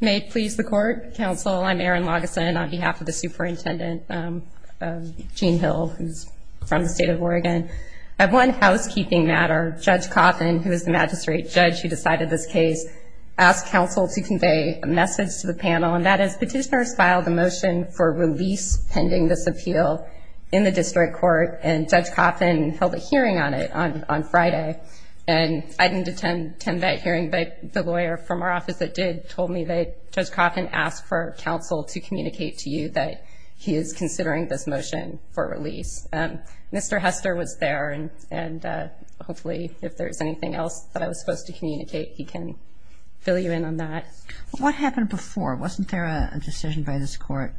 May it please the Court, Counsel, I'm Erin Lageson on behalf of the Superintendent of Jean Hill, who's from the State of Oregon. At one housekeeping matter, Judge Coffin, who is the Magistrate Judge who decided this case, asked Counsel to convey a message to the panel, and that is, Petitioners filed a motion for release pending this appeal in the District Court, and Judge Coffin held a hearing on it on Friday. And I didn't attend that hearing, but the lawyer from our office that did told me that Judge Coffin asked for Counsel to communicate to you that he is considering this motion for release. Mr. Hester was there, and hopefully if there's anything else that I was supposed to communicate, he can fill you in on that. What happened before? Wasn't there a decision by this Court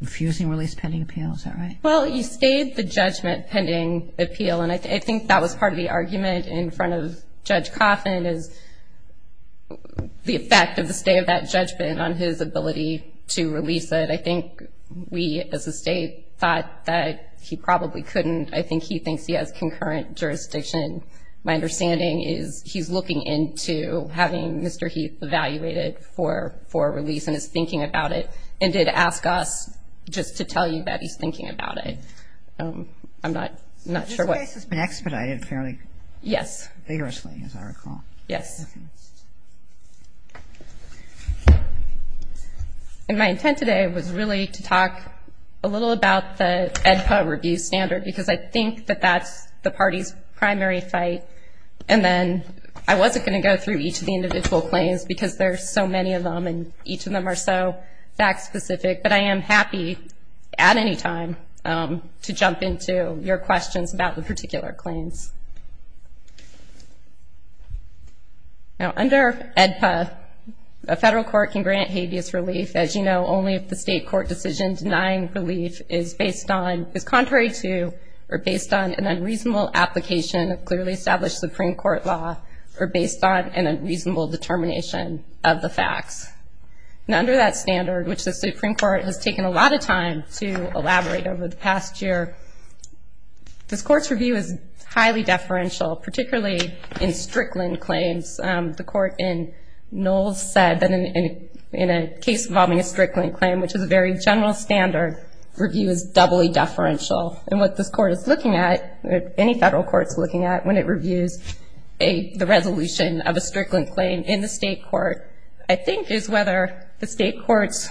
refusing release pending appeal? Is that right? Well, he stayed the judgment pending appeal, and I think that was part of the argument in front of Judge Coffin, is the effect of the stay of that judgment on his ability to release it. I think we as a State thought that he probably couldn't. I think he thinks he has concurrent jurisdiction. My understanding is he's looking into having Mr. Heath evaluated for release and is thinking about it, and did ask us just to tell you that he's thinking about it. I'm not sure what. This case has been expedited fairly. Yes. Vigorously, as I recall. Yes. And my intent today was really to talk a little about the AEDPA review standard, because I think that that's the party's primary fight, and then I wasn't going to go through each of the individual claims, because there are so many of them and each of them are so fact-specific. But I am happy at any time to jump into your questions about the particular claims. Now, under AEDPA, a federal court can grant habeas relief, as you know, only if the State court decision denying relief is contrary to or based on an unreasonable application of clearly established Supreme Court law or based on an unreasonable determination of the facts. Now, under that standard, which the Supreme Court has taken a lot of time to elaborate over the past year, this Court's review is highly deferential, particularly in Strickland claims. The Court in Knowles said that in a case involving a Strickland claim, which is a very general standard, review is doubly deferential. And what this Court is looking at, or any federal court is looking at, when it reviews the resolution of a Strickland claim in the State court, I think is whether the State court's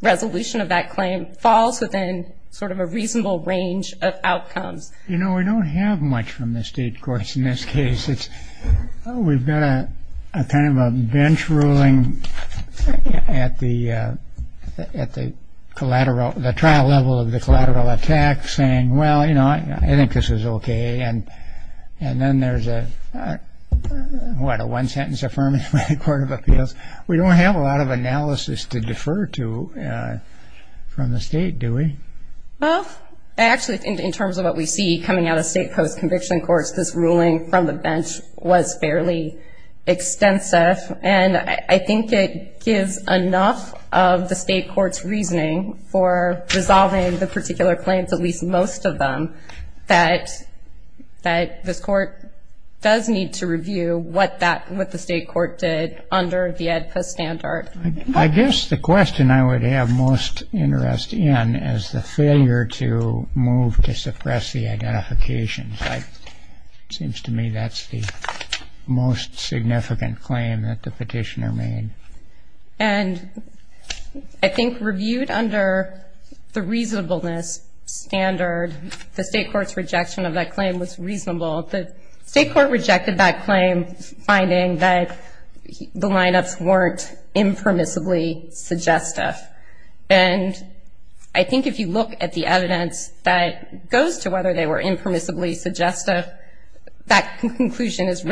resolution of that claim falls within sort of a reasonable range of outcomes. You know, we don't have much from the State courts in this case. We've got a kind of a bench ruling at the trial level of the collateral attack saying, well, you know, I think this is okay. And then there's a, what, a one-sentence affirmation by the Court of Appeals. We don't have a lot of analysis to defer to from the State, do we? Well, actually, in terms of what we see coming out of State post-conviction courts, this ruling from the bench was fairly extensive. And I think it gives enough of the State court's reasoning for resolving the particular claims, at least most of them, that this court does need to review what that, what the State court did under the AEDPA standard. I guess the question I would have most interest in is the failure to move to suppress the identification. It seems to me that's the most significant claim that the petitioner made. And I think reviewed under the reasonableness standard, the State court's rejection of that claim was reasonable. The State court rejected that claim, finding that the lineups weren't impermissibly suggestive. And I think if you look at the evidence that goes to whether they were impermissibly suggestive, that conclusion is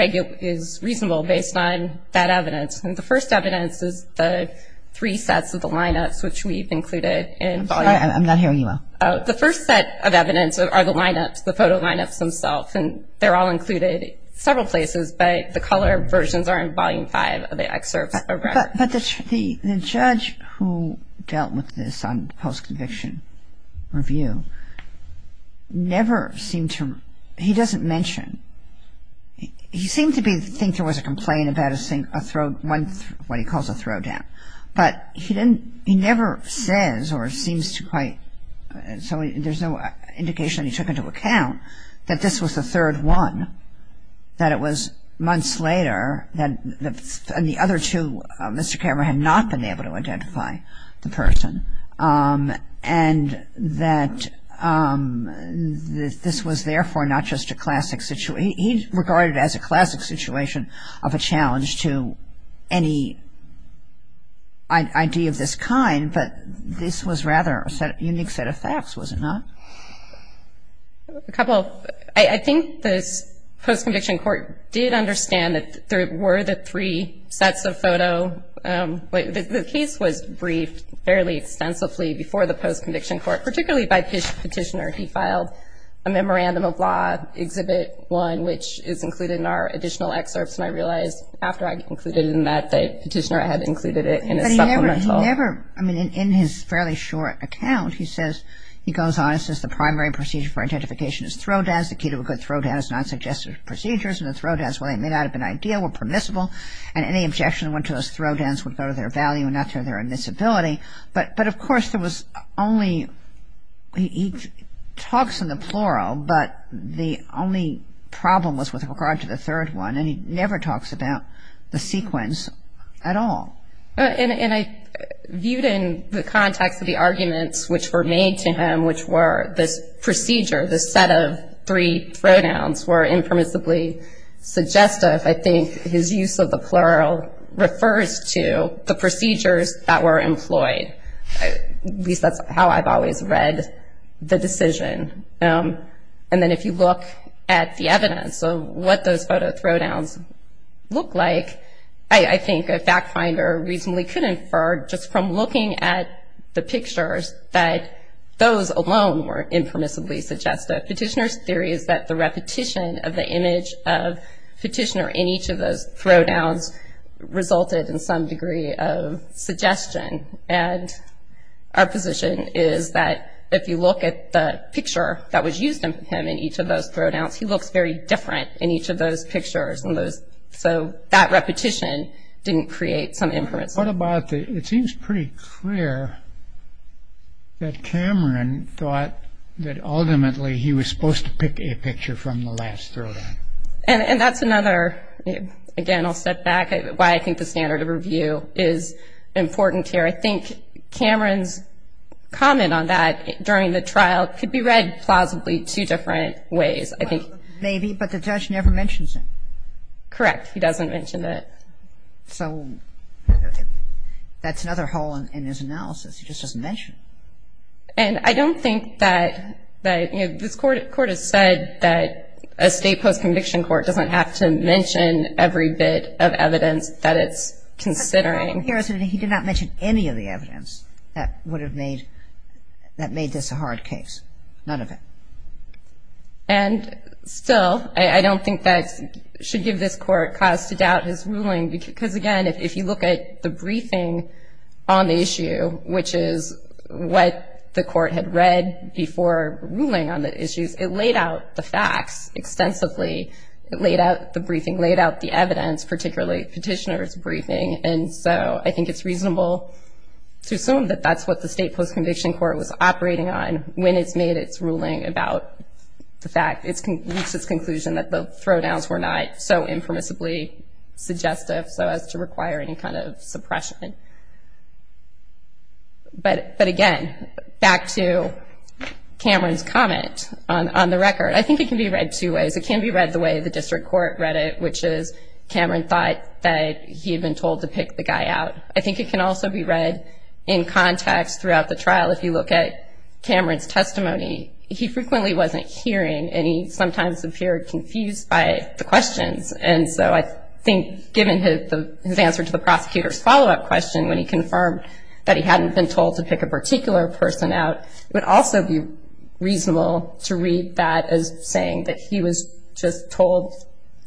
reasonable based on that evidence. And the first evidence is the three sets of the lineups, which we've included in Volume 5. I'm sorry. I'm not hearing you well. The first set of evidence are the lineups, the photo lineups themselves. And they're all included several places, but the color versions are in Volume 5 of the excerpts. But the judge who dealt with this on post-conviction review never seemed to, he doesn't mention, he seemed to think there was a complaint about a, what he calls a throwdown. But he didn't, he never says or seems to quite, so there's no indication he took into account that this was the third one, that it was months later, and the other two, Mr. Cameron had not been able to identify the person, and that this was therefore not just a classic situation. He regarded it as a classic situation of a challenge to any idea of this kind, but this was rather a unique set of facts, was it not? A couple. I think the post-conviction court did understand that there were the three sets of photo. The case was briefed fairly extensively before the post-conviction court, particularly by Petitioner. He filed a memorandum of law, Exhibit 1, which is included in our additional excerpts, and I realized after I included it in that that Petitioner had included it in a supplemental. He never, I mean, in his fairly short account, he says, he goes on and says the primary procedure for identification is throwdowns. The key to a good throwdown is non-suggestive procedures, and the throwdowns, while they may not have been ideal, were permissible, and any objection to those throwdowns would go to their value and not to their admissibility. But, of course, there was only, he talks in the plural, but the only problem was with regard to the third one, and he never talks about the sequence at all. And I viewed it in the context of the arguments which were made to him, which were this procedure, this set of three throwdowns were impermissibly suggestive. I think his use of the plural refers to the procedures that were employed. At least that's how I've always read the decision. And then if you look at the evidence of what those photo throwdowns look like, I think a fact finder reasonably could infer just from looking at the pictures that those alone were impermissibly suggestive. Petitioner's theory is that the repetition of the image of Petitioner in each of those throwdowns resulted in some degree of suggestion. And our position is that if you look at the picture that was used of him in each of those throwdowns, he looks very different in each of those pictures. And so that repetition didn't create some inference. What about the, it seems pretty clear that Cameron thought that ultimately he was supposed to pick a picture from the last throwdown. And that's another, again, I'll step back, why I think the standard of review is important here. I think Cameron's comment on that during the trial could be read plausibly two different ways. I think. Maybe, but the judge never mentions it. Correct. He doesn't mention it. So that's another hole in his analysis. He just doesn't mention it. And I don't think that, you know, this Court has said that a state post-conviction court doesn't have to mention every bit of evidence that it's considering. He did not mention any of the evidence that would have made this a hard case, none of it. And still, I don't think that should give this Court cause to doubt his ruling. Because, again, if you look at the briefing on the issue, which is what the Court had read before ruling on the issues, it laid out the facts extensively. It laid out the briefing, laid out the evidence, particularly Petitioner's briefing. And so I think it's reasonable to assume that that's what the state post-conviction court was operating on when it's made its ruling about the fact. It's reached its conclusion that the throwdowns were not so impermissibly suggestive so as to require any kind of suppression. But, again, back to Cameron's comment on the record. I think it can be read two ways. It can be read the way the district court read it, which is Cameron thought that he had been told to pick the guy out. I think it can also be read in context throughout the trial. If you look at Cameron's testimony, he frequently wasn't hearing, and he sometimes appeared confused by the questions. And so I think given his answer to the prosecutor's follow-up question when he confirmed that he hadn't been told to pick a particular person out, it would also be reasonable to read that as saying that he was just told,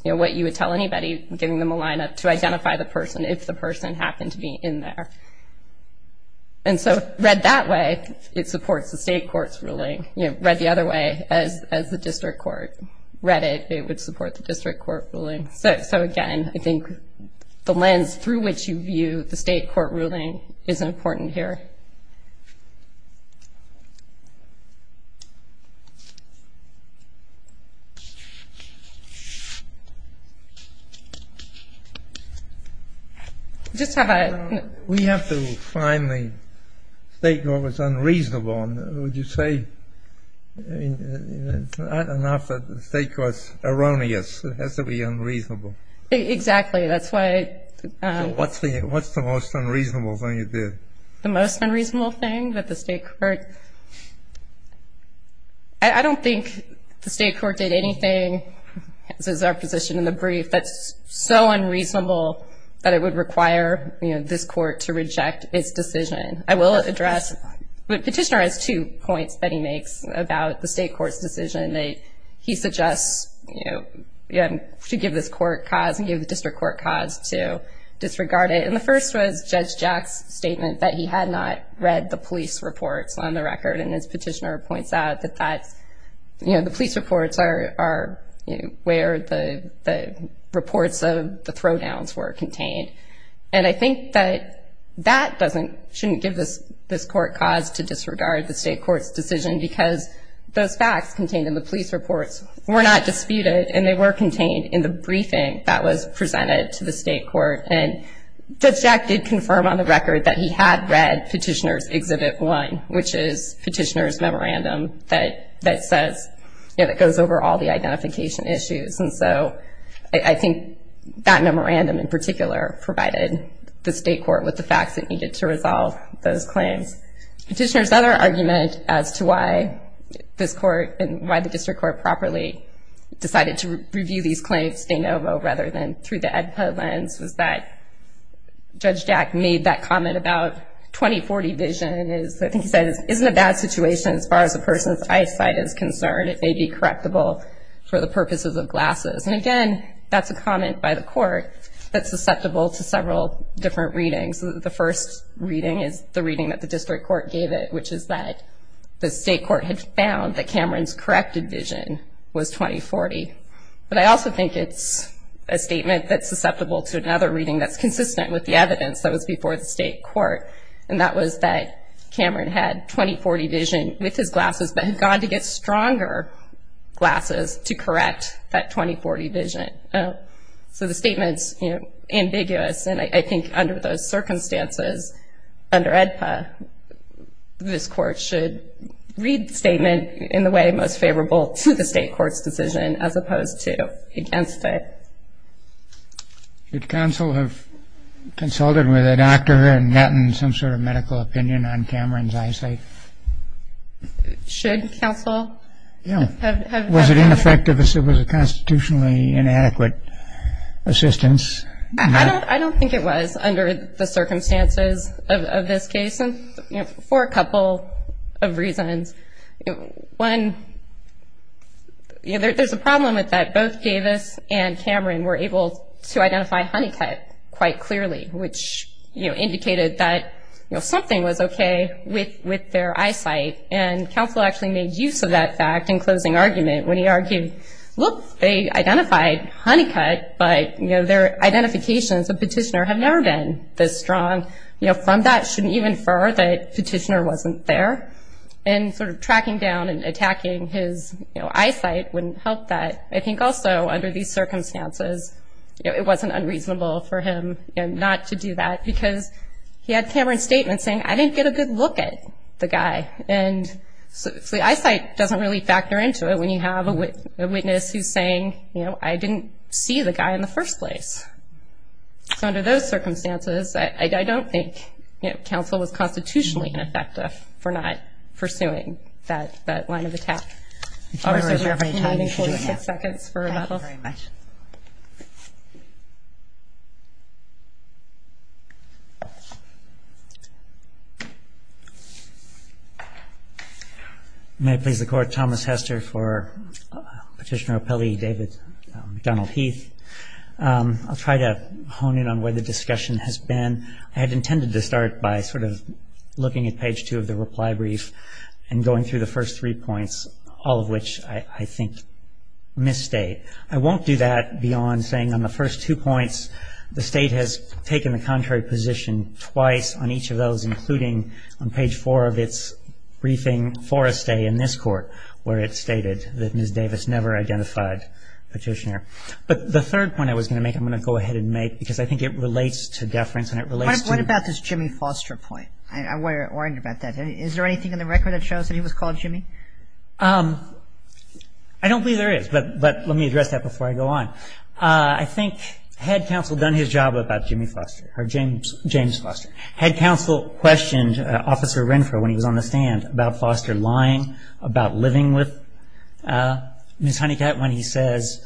you know, to tell anybody, giving them a lineup, to identify the person if the person happened to be in there. And so read that way, it supports the state court's ruling. You know, read the other way, as the district court read it, it would support the district court ruling. So, again, I think the lens through which you view the state court ruling is important here. We have to find the state court was unreasonable. I mean, it's not enough that the state court's erroneous. It has to be unreasonable. Exactly. That's why ‑‑ What's the most unreasonable thing you did? The most unreasonable thing that the state court ‑‑ I don't think the state court did anything, as is our position in the brief, that's so unreasonable that it would require, you know, this court to reject its decision. I will address ‑‑ the petitioner has two points that he makes about the state court's decision. He suggests, you know, to give this court cause and give the district court cause to disregard it. And the first was Judge Jack's statement that he had not read the police reports on the record, and his petitioner points out that that's, you know, the police reports are where the reports of the throwdowns were contained. And I think that that doesn't ‑‑ shouldn't give this court cause to disregard the state court's decision because those facts contained in the police reports were not disputed, and they were contained in the briefing that was presented to the state court. And Judge Jack did confirm on the record that he had read Petitioner's Exhibit 1, which is petitioner's memorandum that says, you know, that goes over all the identification issues. And so I think that memorandum in particular provided the state court with the facts that needed to resolve those claims. Petitioner's other argument as to why this court and why the district court properly decided to review these claims de novo rather than through the EDPA lens was that Judge Jack made that comment about 2040 vision. I think he says, isn't a bad situation as far as a person's eyesight is concerned. It may be correctable for the purposes of glasses. And again, that's a comment by the court that's susceptible to several different readings. The first reading is the reading that the district court gave it, which is that the state court had found that Cameron's corrected vision was 2040. But I also think it's a statement that's susceptible to another reading that's consistent with the evidence that was before the state court, and that was that Cameron had 2040 vision with his glasses but had gone to get stronger glasses to correct that 2040 vision. So the statement's ambiguous, and I think under those circumstances, under EDPA this court should read the statement in the way most favorable to the state court's decision as opposed to against it. Should counsel have consulted with a doctor and gotten some sort of medical opinion on Cameron's eyesight? Should counsel have? Was it ineffective? Was it constitutionally inadequate assistance? I don't think it was under the circumstances of this case for a couple of reasons. One, there's a problem with that. Both Davis and Cameron were able to identify honeycut quite clearly, which indicated that something was okay with their eyesight, and counsel actually made use of that fact in closing argument when he argued, look, they identified honeycut, but their identifications of petitioner have never been this strong. From that shouldn't even infer that petitioner wasn't there. And sort of tracking down and attacking his eyesight wouldn't help that. I think also under these circumstances it wasn't unreasonable for him not to do that because he had Cameron's statement saying, I didn't get a good look at the guy. And the eyesight doesn't really factor into it when you have a witness who's saying, you know, I didn't see the guy in the first place. So under those circumstances I don't think, you know, counsel was constitutionally ineffective for not pursuing that line of attack. If you have any time, you should do that. Thank you very much. May it please the Court, Thomas Hester for Petitioner O'Pelley, David McDonald-Heath. I'll try to hone in on where the discussion has been. I had intended to start by sort of looking at page two of the reply brief and going through the first three points, all of which I think misstate. I won't do that beyond saying on the first two points, the State has taken the contrary position twice on each of those, including on page four of its briefing for a stay in this Court where it stated that Ms. Davis never identified Petitioner. But the third point I was going to make, I'm going to go ahead and make, because I think it relates to deference and it relates to the ---- What about this Jimmy Foster point? I'm worried about that. Is there anything in the record that shows that he was called Jimmy? I don't believe there is, but let me address that before I go on. I think had counsel done his job about Jimmy Foster or James Foster, had counsel questioned Officer Renfro when he was on the stand about Foster lying, about living with Ms. Honeycutt when he says,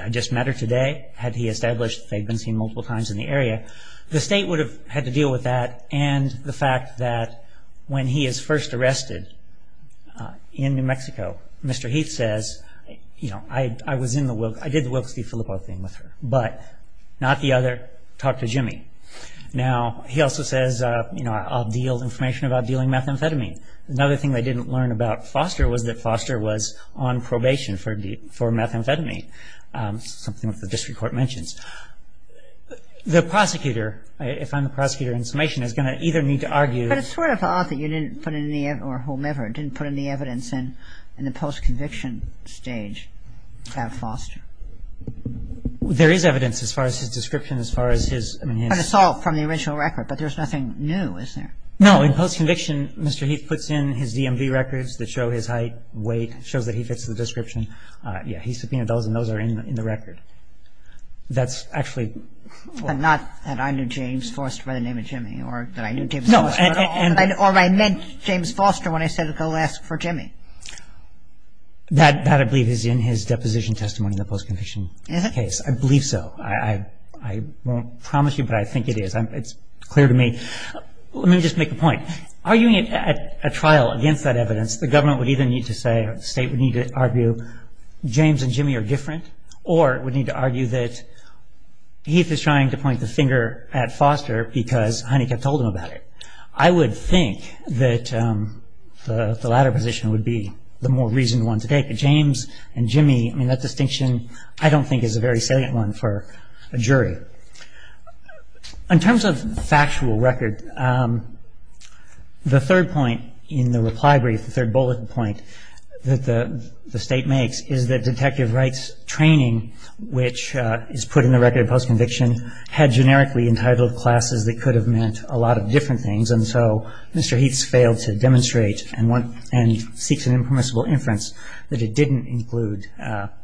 I just met her today, had he established they'd been seen multiple times in the area, the State would have had to deal with that and the fact that when he is first arrested in New Mexico, Mr. Heath says, I did the Wilkes-Dee-Philippo thing with her, but not the other, talk to Jimmy. Now, he also says, I'll deal information about dealing methamphetamine. Another thing they didn't learn about Foster was that Foster was on probation for methamphetamine, something that the District Court mentions. The prosecutor, if I'm the prosecutor in summation, is going to either need to argue But it's sort of odd that you didn't put any evidence, or whomever, didn't put any evidence in the post-conviction stage about Foster. There is evidence as far as his description, as far as his I mean, it's all from the original record, but there's nothing new, is there? No, in post-conviction, Mr. Heath puts in his DMV records that show his height, weight, shows that he fits the description. He subpoenaed those and those are in the record. That's actually But not that I knew James Foster by the name of Jimmy, or that I knew James Foster at all. No, and Or I met James Foster when I said, go ask for Jimmy. That, I believe, is in his deposition testimony in the post-conviction case. Is it? I believe so. I won't promise you, but I think it is. It's clear to me. Let me just make a point. Arguing at trial against that evidence, the government would either need to say, the state would need to argue, James and Jimmy are different, or it would need to argue that Heath is trying to point the finger at Foster because Honeycutt told him about it. I would think that the latter position would be the more reasoned one to take. But James and Jimmy, I mean, that distinction I don't think is a very salient one for a jury. In terms of factual record, the third point in the reply brief, the third bullet point, that the state makes is that detective Wright's training, which is put in the record of post-conviction, had generically entitled classes that could have meant a lot of different things. And so Mr. Heath's failed to demonstrate and seeks an impermissible inference that it didn't include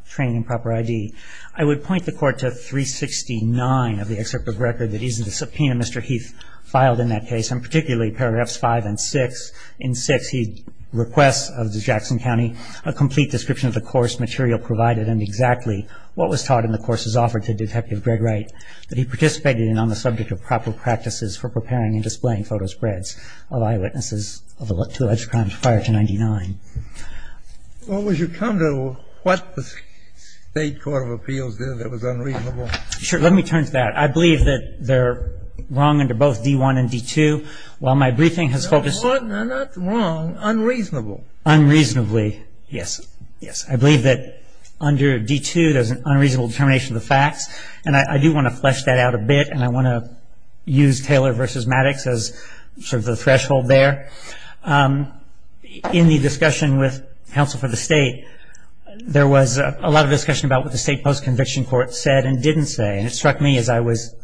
training and proper ID. I would point the Court to 369 of the excerpt of record that he's in the subpoena Mr. Heath filed in that case, and particularly paragraphs 5 and 6. In 6, he requests of the Jackson County a complete description of the course material provided and exactly what was taught in the courses offered to Detective Greg Wright that he participated in on the subject of proper practices for preparing and displaying photo spreads of eyewitnesses to alleged crimes prior to 99. Well, would you come to what the State Court of Appeals did that was unreasonable? Sure. Let me turn to that. I believe that they're wrong under both D1 and D2. While my briefing has focused... Not wrong, unreasonable. Unreasonably, yes. I believe that under D2 there's an unreasonable determination of the facts, and I do want to flesh that out a bit and I want to use Taylor v. Maddox as sort of the threshold there. In the discussion with counsel for the state, there was a lot of discussion about what the state post-conviction court said and didn't say, and it struck me as I was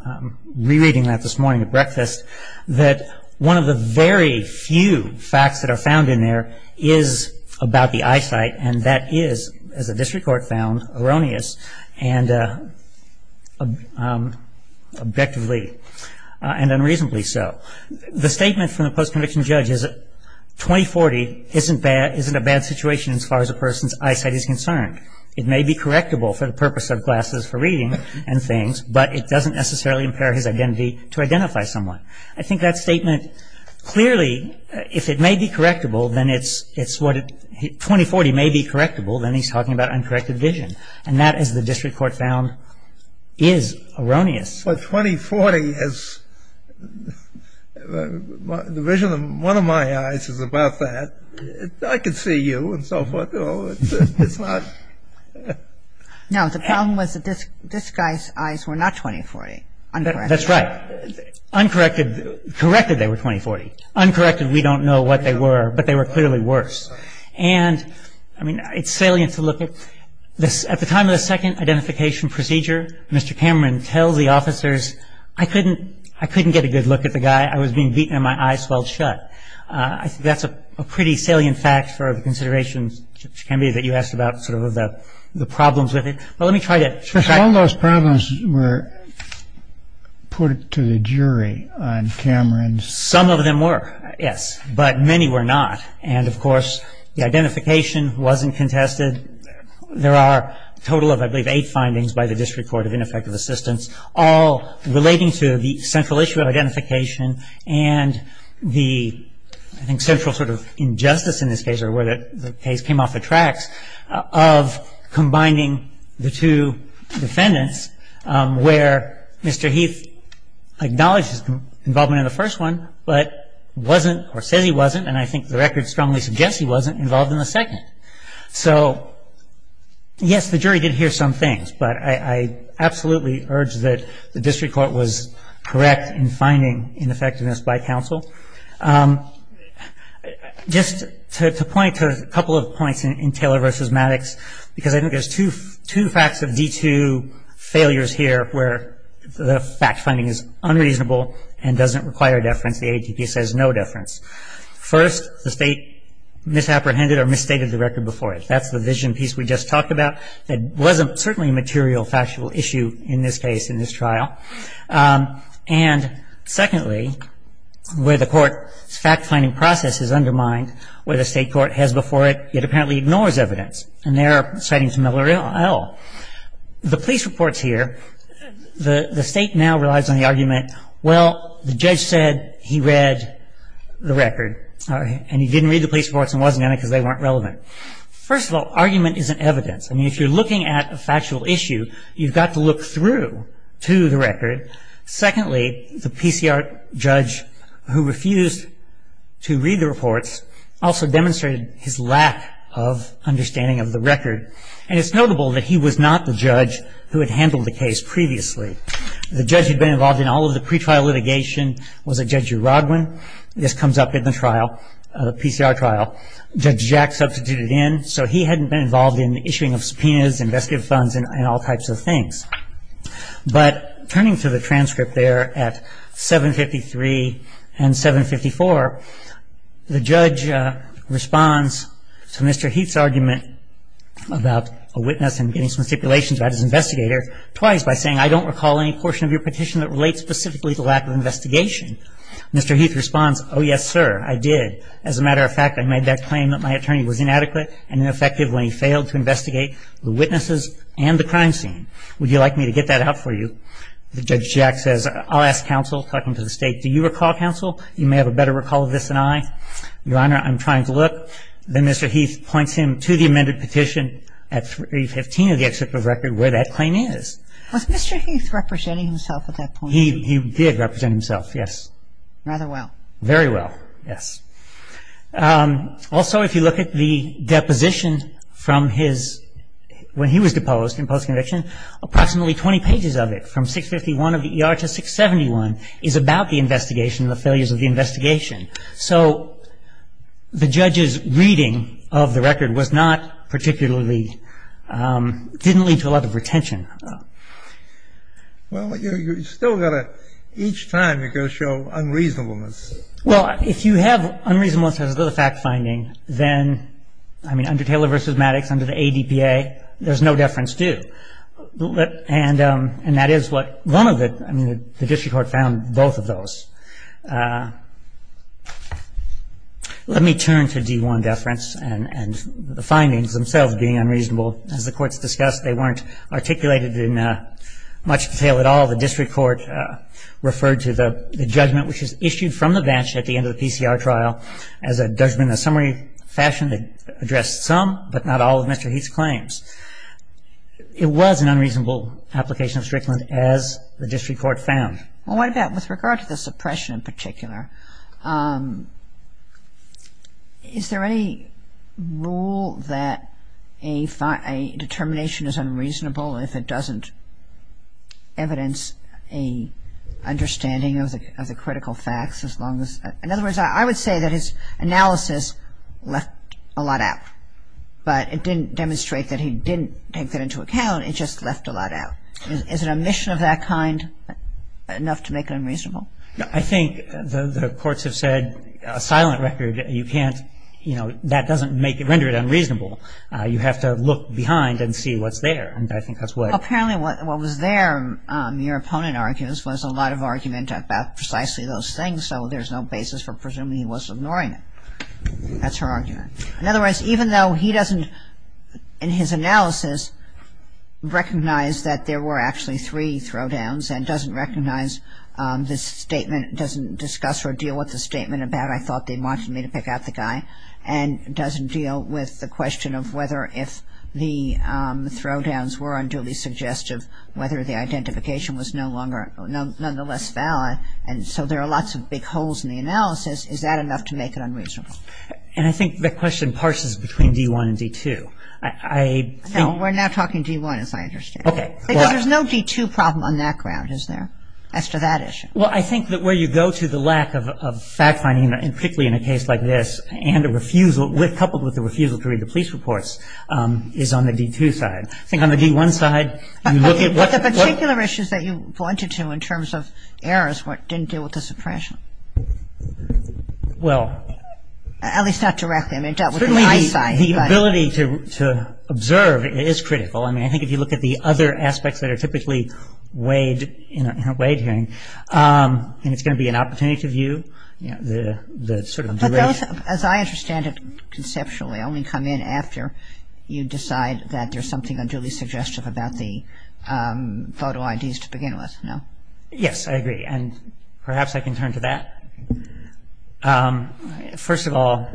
rereading that this morning at breakfast that one of the very few facts that are found in there is about the eyesight and that is, as the district court found, erroneous and objectively and unreasonably so. The statement from the post-conviction judge is that 2040 isn't a bad situation as far as a person's eyesight is concerned. It may be correctable for the purpose of glasses for reading and things, but it doesn't necessarily impair his identity to identify someone. I think that statement clearly, if it may be correctable, then it's what... 2040 may be correctable, then he's talking about uncorrected vision, and that, as the district court found, is erroneous. But 2040 is... The vision of one of my eyes is about that. I can see you and so forth. No, it's not. No, the problem was that this guy's eyes were not 2040, uncorrected. That's right. Uncorrected, they were 2040. Uncorrected, we don't know what they were, but they were clearly worse. And, I mean, it's salient to look at. At the time of the second identification procedure, Mr. Cameron tells the officers, I couldn't get a good look at the guy. I was being beaten and my eyes swelled shut. I think that's a pretty salient fact for the considerations, which can be that you asked about sort of the problems with it. But let me try to... All those problems were put to the jury on Cameron's... Some of them were, yes, but many were not. And, of course, the identification wasn't contested. There are a total of, I believe, eight findings by the district court of ineffective assistance, all relating to the central issue of identification and the, I think, central sort of injustice in this case, or where the case came off the tracks, of combining the two defendants where Mr. Heath acknowledged his involvement in the first one, but wasn't, or says he wasn't, and I think the record strongly suggests he wasn't, involved in the second. So, yes, the jury did hear some things, but I absolutely urge that the district court was correct in finding ineffectiveness by counsel. Just to point to a couple of points in Taylor v. Maddox, because I think there's two facts of D2 failures here where the fact finding is unreasonable and doesn't require deference. The AATP says no deference. First, the state misapprehended or misstated the record before it. That's the vision piece we just talked about. It wasn't certainly a material, factual issue in this case, in this trial. And, secondly, where the court's fact finding process is undermined, where the state court has before it, yet apparently ignores evidence. And there are sightings of Miller et al. The police reports here, the state now relies on the argument, Well, the judge said he read the record, and he didn't read the police reports and wasn't in it because they weren't relevant. First of all, argument isn't evidence. I mean, if you're looking at a factual issue, you've got to look through to the record. Secondly, the PCR judge who refused to read the reports also demonstrated his lack of understanding of the record. And it's notable that he was not the judge who had handled the case previously. The judge who'd been involved in all of the pretrial litigation was a Judge Urodwin. This comes up in the trial, the PCR trial. Judge Jack substituted in. So he hadn't been involved in the issuing of subpoenas, investigative funds, and all types of things. But turning to the transcript there at 753 and 754, the judge responds to Mr. Heath's argument about a witness and getting some stipulations about his investigator twice by saying, I don't recall any portion of your petition that relates specifically to lack of investigation. Mr. Heath responds, oh, yes, sir, I did. As a matter of fact, I made that claim that my attorney was inadequate and ineffective when he failed to investigate the witnesses and the crime scene. Would you like me to get that out for you? Judge Jack says, I'll ask counsel. Talk him to the state. Do you recall, counsel? You may have a better recall of this than I. Your Honor, I'm trying to look. Then Mr. Heath points him to the amended petition at 315 of the excerpt of record where that claim is. Was Mr. Heath representing himself at that point? He did represent himself, yes. Rather well. Very well, yes. Also, if you look at the deposition from his – when he was deposed in post-conviction, approximately 20 pages of it from 651 of the ER to 671 is about the investigation and the failures of the investigation. So the judge's reading of the record was not particularly – didn't lead to a lot of retention. Well, you've still got to – each time you've got to show unreasonableness. Well, if you have – unreasonableness has little fact-finding, then, I mean, under Taylor v. Maddox, under the ADPA, there's no deference due. And that is what one of the – I mean, the district court found both of those. Let me turn to D1 deference and the findings themselves being unreasonable. As the courts discussed, they weren't articulated in much detail at all. The district court referred to the judgment which is issued from the banshee at the end of the PCR trial as a judgment in a summary fashion that addressed some but not all of Mr. Heath's claims. It was an unreasonable application of strickland, as the district court found. Well, what about – with regard to the suppression in particular, is there any rule that a determination is unreasonable if it doesn't evidence a understanding of the critical facts as long as – in other words, I would say that his analysis left a lot out. But it didn't demonstrate that he didn't take that into account. It just left a lot out. Is an omission of that kind enough to make it unreasonable? I think the courts have said a silent record, you can't – you know, that doesn't render it unreasonable. You have to look behind and see what's there. Apparently what was there, your opponent argues, was a lot of argument about precisely those things, so there's no basis for presuming he was ignoring it. That's her argument. In other words, even though he doesn't, in his analysis, recognize that there were actually three throwdowns and doesn't recognize the statement – doesn't discuss or deal with the statement about I thought they wanted me to pick out the guy and doesn't deal with the question of whether if the throwdowns were unduly suggestive, whether the identification was no longer – nonetheless valid, and so there are lots of big holes in the analysis, is that enough to make it unreasonable? And I think the question parses between D-1 and D-2. I think – No, we're now talking D-1, as I understand. Okay. Because there's no D-2 problem on that ground, is there, as to that issue? Well, I think that where you go to the lack of fact-finding, and particularly in a case like this, and a refusal – coupled with the refusal to read the police reports is on the D-2 side. I think on the D-1 side – But the particular issues that you pointed to in terms of errors didn't deal with the suppression. Well – At least not directly. I mean, it dealt with the eyesight. Certainly the ability to observe is critical. I mean, I think if you look at the other aspects that are typically weighed in a weighed hearing, and it's going to be an opportunity to view the sort of – But those, as I understand it conceptually, only come in after you decide that there's something unduly suggestive about the photo IDs to begin with, no? Yes, I agree. And perhaps I can turn to that. First of all,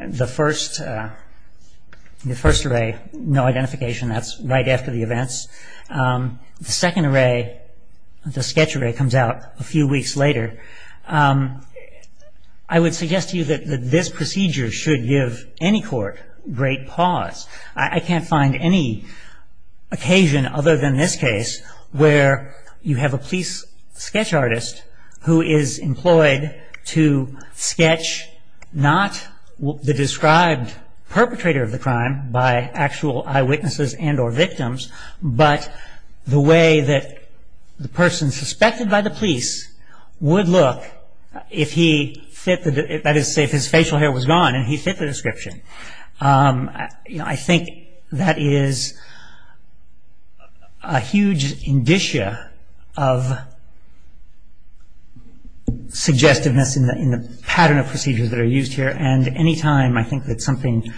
the first array, no identification, that's right after the events. The second array, the sketch array, comes out a few weeks later. I would suggest to you that this procedure should give any court great pause. I can't find any occasion other than this case where you have a police sketch artist who is employed to sketch not the described perpetrator of the crime by actual eyewitnesses and or victims, but the way that the person suspected by the police would look if he fit the – that is to say, if his facial hair was gone and he fit the description. I think that is a huge indicia of suggestiveness in the pattern of procedures that are used here, and any time I think that something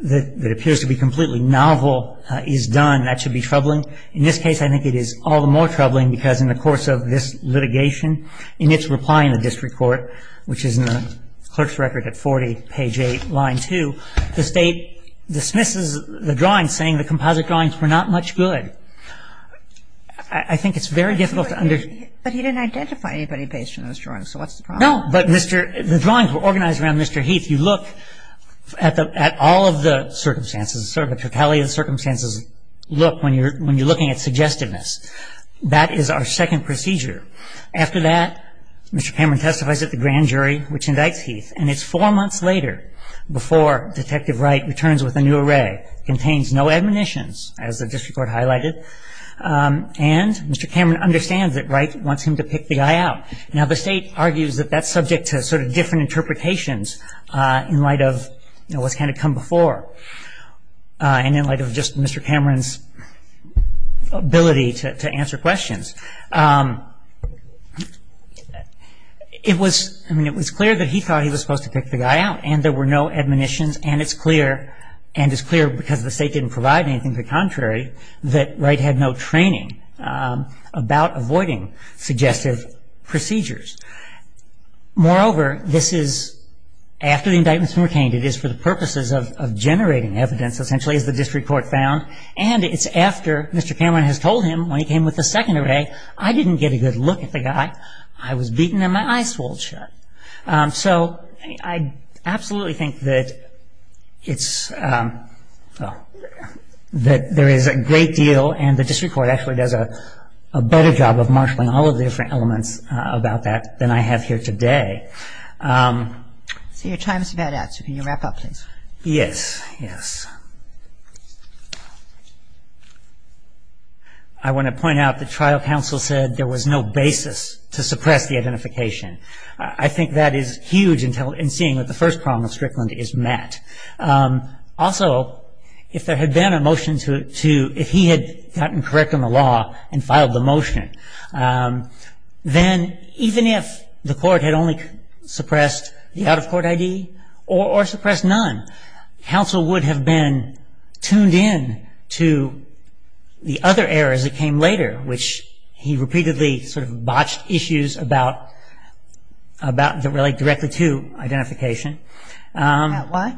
that appears to be completely novel is done, that should be troubling. In this case, I think it is all the more troubling because in the course of this litigation, in its reply in the district court, which is in the clerk's record at 40, page 8, line 2, the state dismisses the drawing saying the composite drawings were not much good. I think it's very difficult to understand. But he didn't identify anybody based on those drawings, so what's the problem? No, but the drawings were organized around Mr. Heath. You look at all of the circumstances, sort of the totality of the circumstances, look when you're looking at suggestiveness. That is our second procedure. After that, Mr. Cameron testifies at the grand jury, which indicts Heath, and it's four months later before Detective Wright returns with a new array, contains no admonitions, as the district court highlighted, and Mr. Cameron understands that Wright wants him to pick the guy out. Now the state argues that that's subject to sort of different interpretations in light of what's kind of come before, and in light of just Mr. Cameron's ability to answer questions. It was clear that he thought he was supposed to pick the guy out, and there were no admonitions, and it's clear, and it's clear because the state didn't provide anything to the contrary, that Wright had no training about avoiding suggestive procedures. Moreover, this is after the indictments were obtained. It is for the purposes of generating evidence, essentially, as the district court found, and it's after Mr. Cameron has told him when he came with the second array that I didn't get a good look at the guy, I was beaten and my eyes swollen shut. So I absolutely think that there is a great deal, and the district court actually does a better job of marshalling all of the different elements about that than I have here today. So your time is about out, so can you wrap up, please? Yes, yes. I want to point out the trial counsel said there was no basis to suppress the identification. I think that is huge in seeing that the first problem of Strickland is Matt. Also, if there had been a motion to, if he had gotten correct on the law and filed the motion, then even if the court had only suppressed the out-of-court ID or suppressed none, counsel would have been tuned in to the other errors that came later, which he repeatedly sort of botched issues about that relate directly to identification. About what?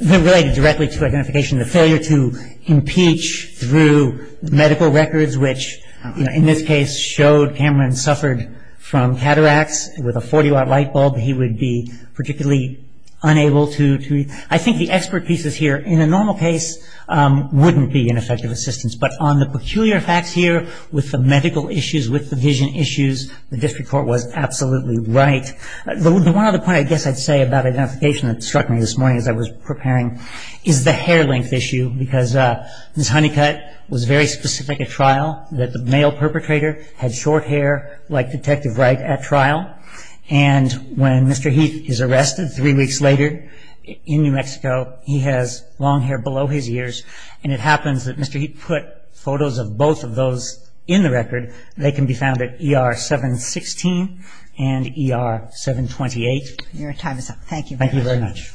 Related directly to identification, the failure to impeach through medical records, which in this case showed Cameron suffered from cataracts with a 40-watt light bulb. He would be particularly unable to, I think the expert pieces here in a normal case wouldn't be an effective assistance, but on the peculiar facts here with the medical issues, with the vision issues, the district court was absolutely right. The one other point I guess I'd say about identification that struck me this morning as I was preparing is the hair length issue, because this honey cut was very specific at trial, that the male perpetrator had short hair like Detective Wright at trial, and when Mr. Heath is arrested three weeks later in New Mexico, he has long hair below his ears, and it happens that Mr. Heath put photos of both of those in the record. They can be found at ER 716 and ER 728. Your time is up. Thank you very much.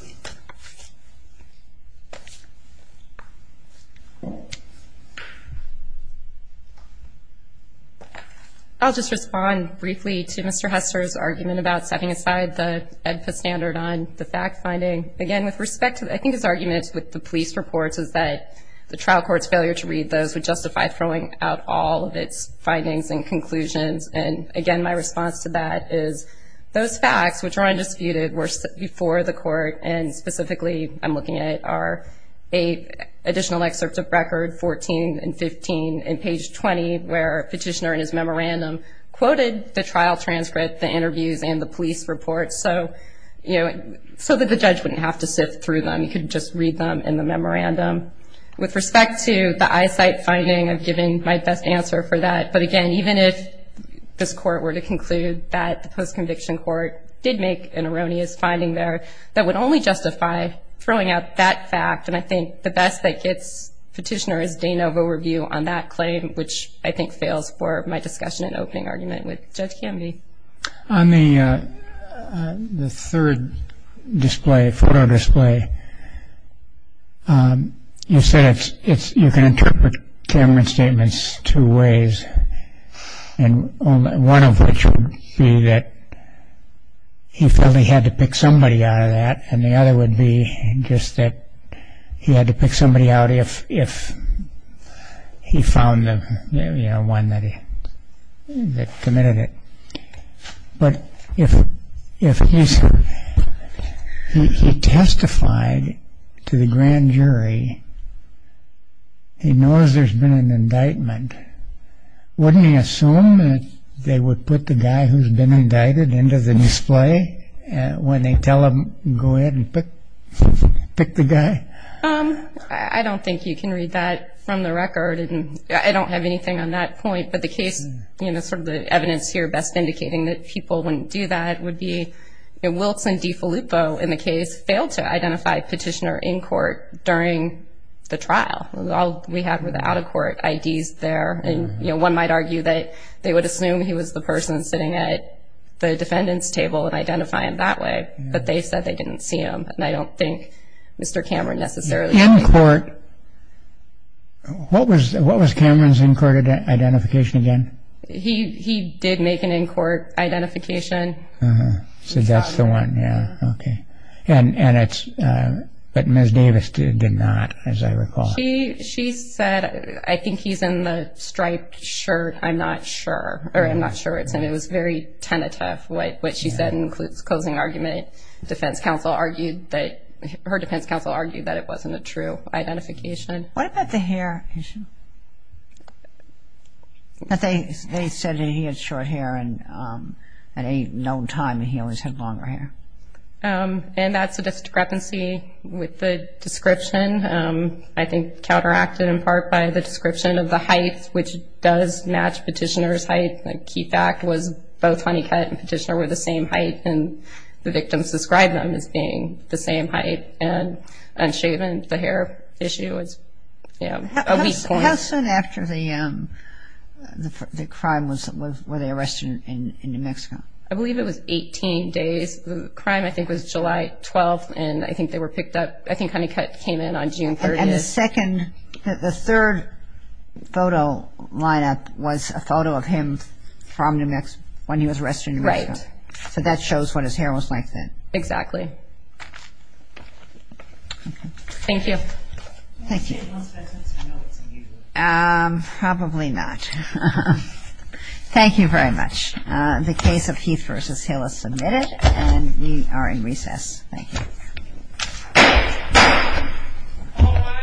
I'll just respond briefly to Mr. Hester's argument about setting aside the EDPA standard on the fact finding. Again, with respect to I think his argument with the police reports is that the trial court's failure to read those would justify throwing out all of its findings and conclusions, and again my response to that is those facts, which are undisputed, were before the court, and specifically I'm looking at are eight additional excerpts of record, 14 and 15, and page 20 where a petitioner in his memorandum quoted the trial transcript, the interviews, and the police reports so that the judge wouldn't have to sift through them. He could just read them in the memorandum. With respect to the eyesight finding, I've given my best answer for that, but again even if this court were to conclude that the post-conviction court did make an erroneous finding there, that would only justify throwing out that fact, and I think the best that gets petitioners is de novo review on that claim, which I think fails for my discussion and opening argument with Judge Canby. On the third display, photo display, you said you can interpret Cameron's statements two ways, and one of which would be that he felt he had to pick somebody out of that, and the other would be just that he had to pick somebody out if he found the one that committed it, but if he testified to the grand jury, he knows there's been an indictment, wouldn't he assume that they would put the guy who's been indicted into the display when they tell him go ahead and pick the guy? I don't think you can read that from the record, and I don't have anything on that point, but the case, sort of the evidence here best indicating that people wouldn't do that would be, Wilson DeFilippo in the case failed to identify petitioner in court during the trial. All we have are the out-of-court IDs there, and one might argue that they would assume he was the person sitting at the defendant's table and identify him that way, but they said they didn't see him, and I don't think Mr. Cameron necessarily did. In court, what was Cameron's in-court identification again? He did make an in-court identification. So that's the one, yeah, okay, and it's, but Ms. Davis did not, as I recall. She said, I think he's in the striped shirt, I'm not sure, or I'm not sure, it was very tentative, what she said includes closing argument, defense counsel argued that, her defense counsel argued that it wasn't a true identification. What about the hair issue? They said that he had short hair and at any known time that he always had longer hair. And that's a discrepancy with the description. I think counteracted in part by the description of the height, which does match petitioner's height. I think the key fact was both Honeycutt and petitioner were the same height and the victims described them as being the same height and unshaven. The hair issue was a weak point. How soon after the crime were they arrested in New Mexico? I believe it was 18 days. The crime I think was July 12th, and I think they were picked up, I think Honeycutt came in on June 30th. And the second, the third photo lineup was a photo of him from New Mexico, when he was arrested in New Mexico. Right. So that shows what his hair was like then. Exactly. Thank you. Thank you. Probably not. Thank you very much. Thank you. All rise.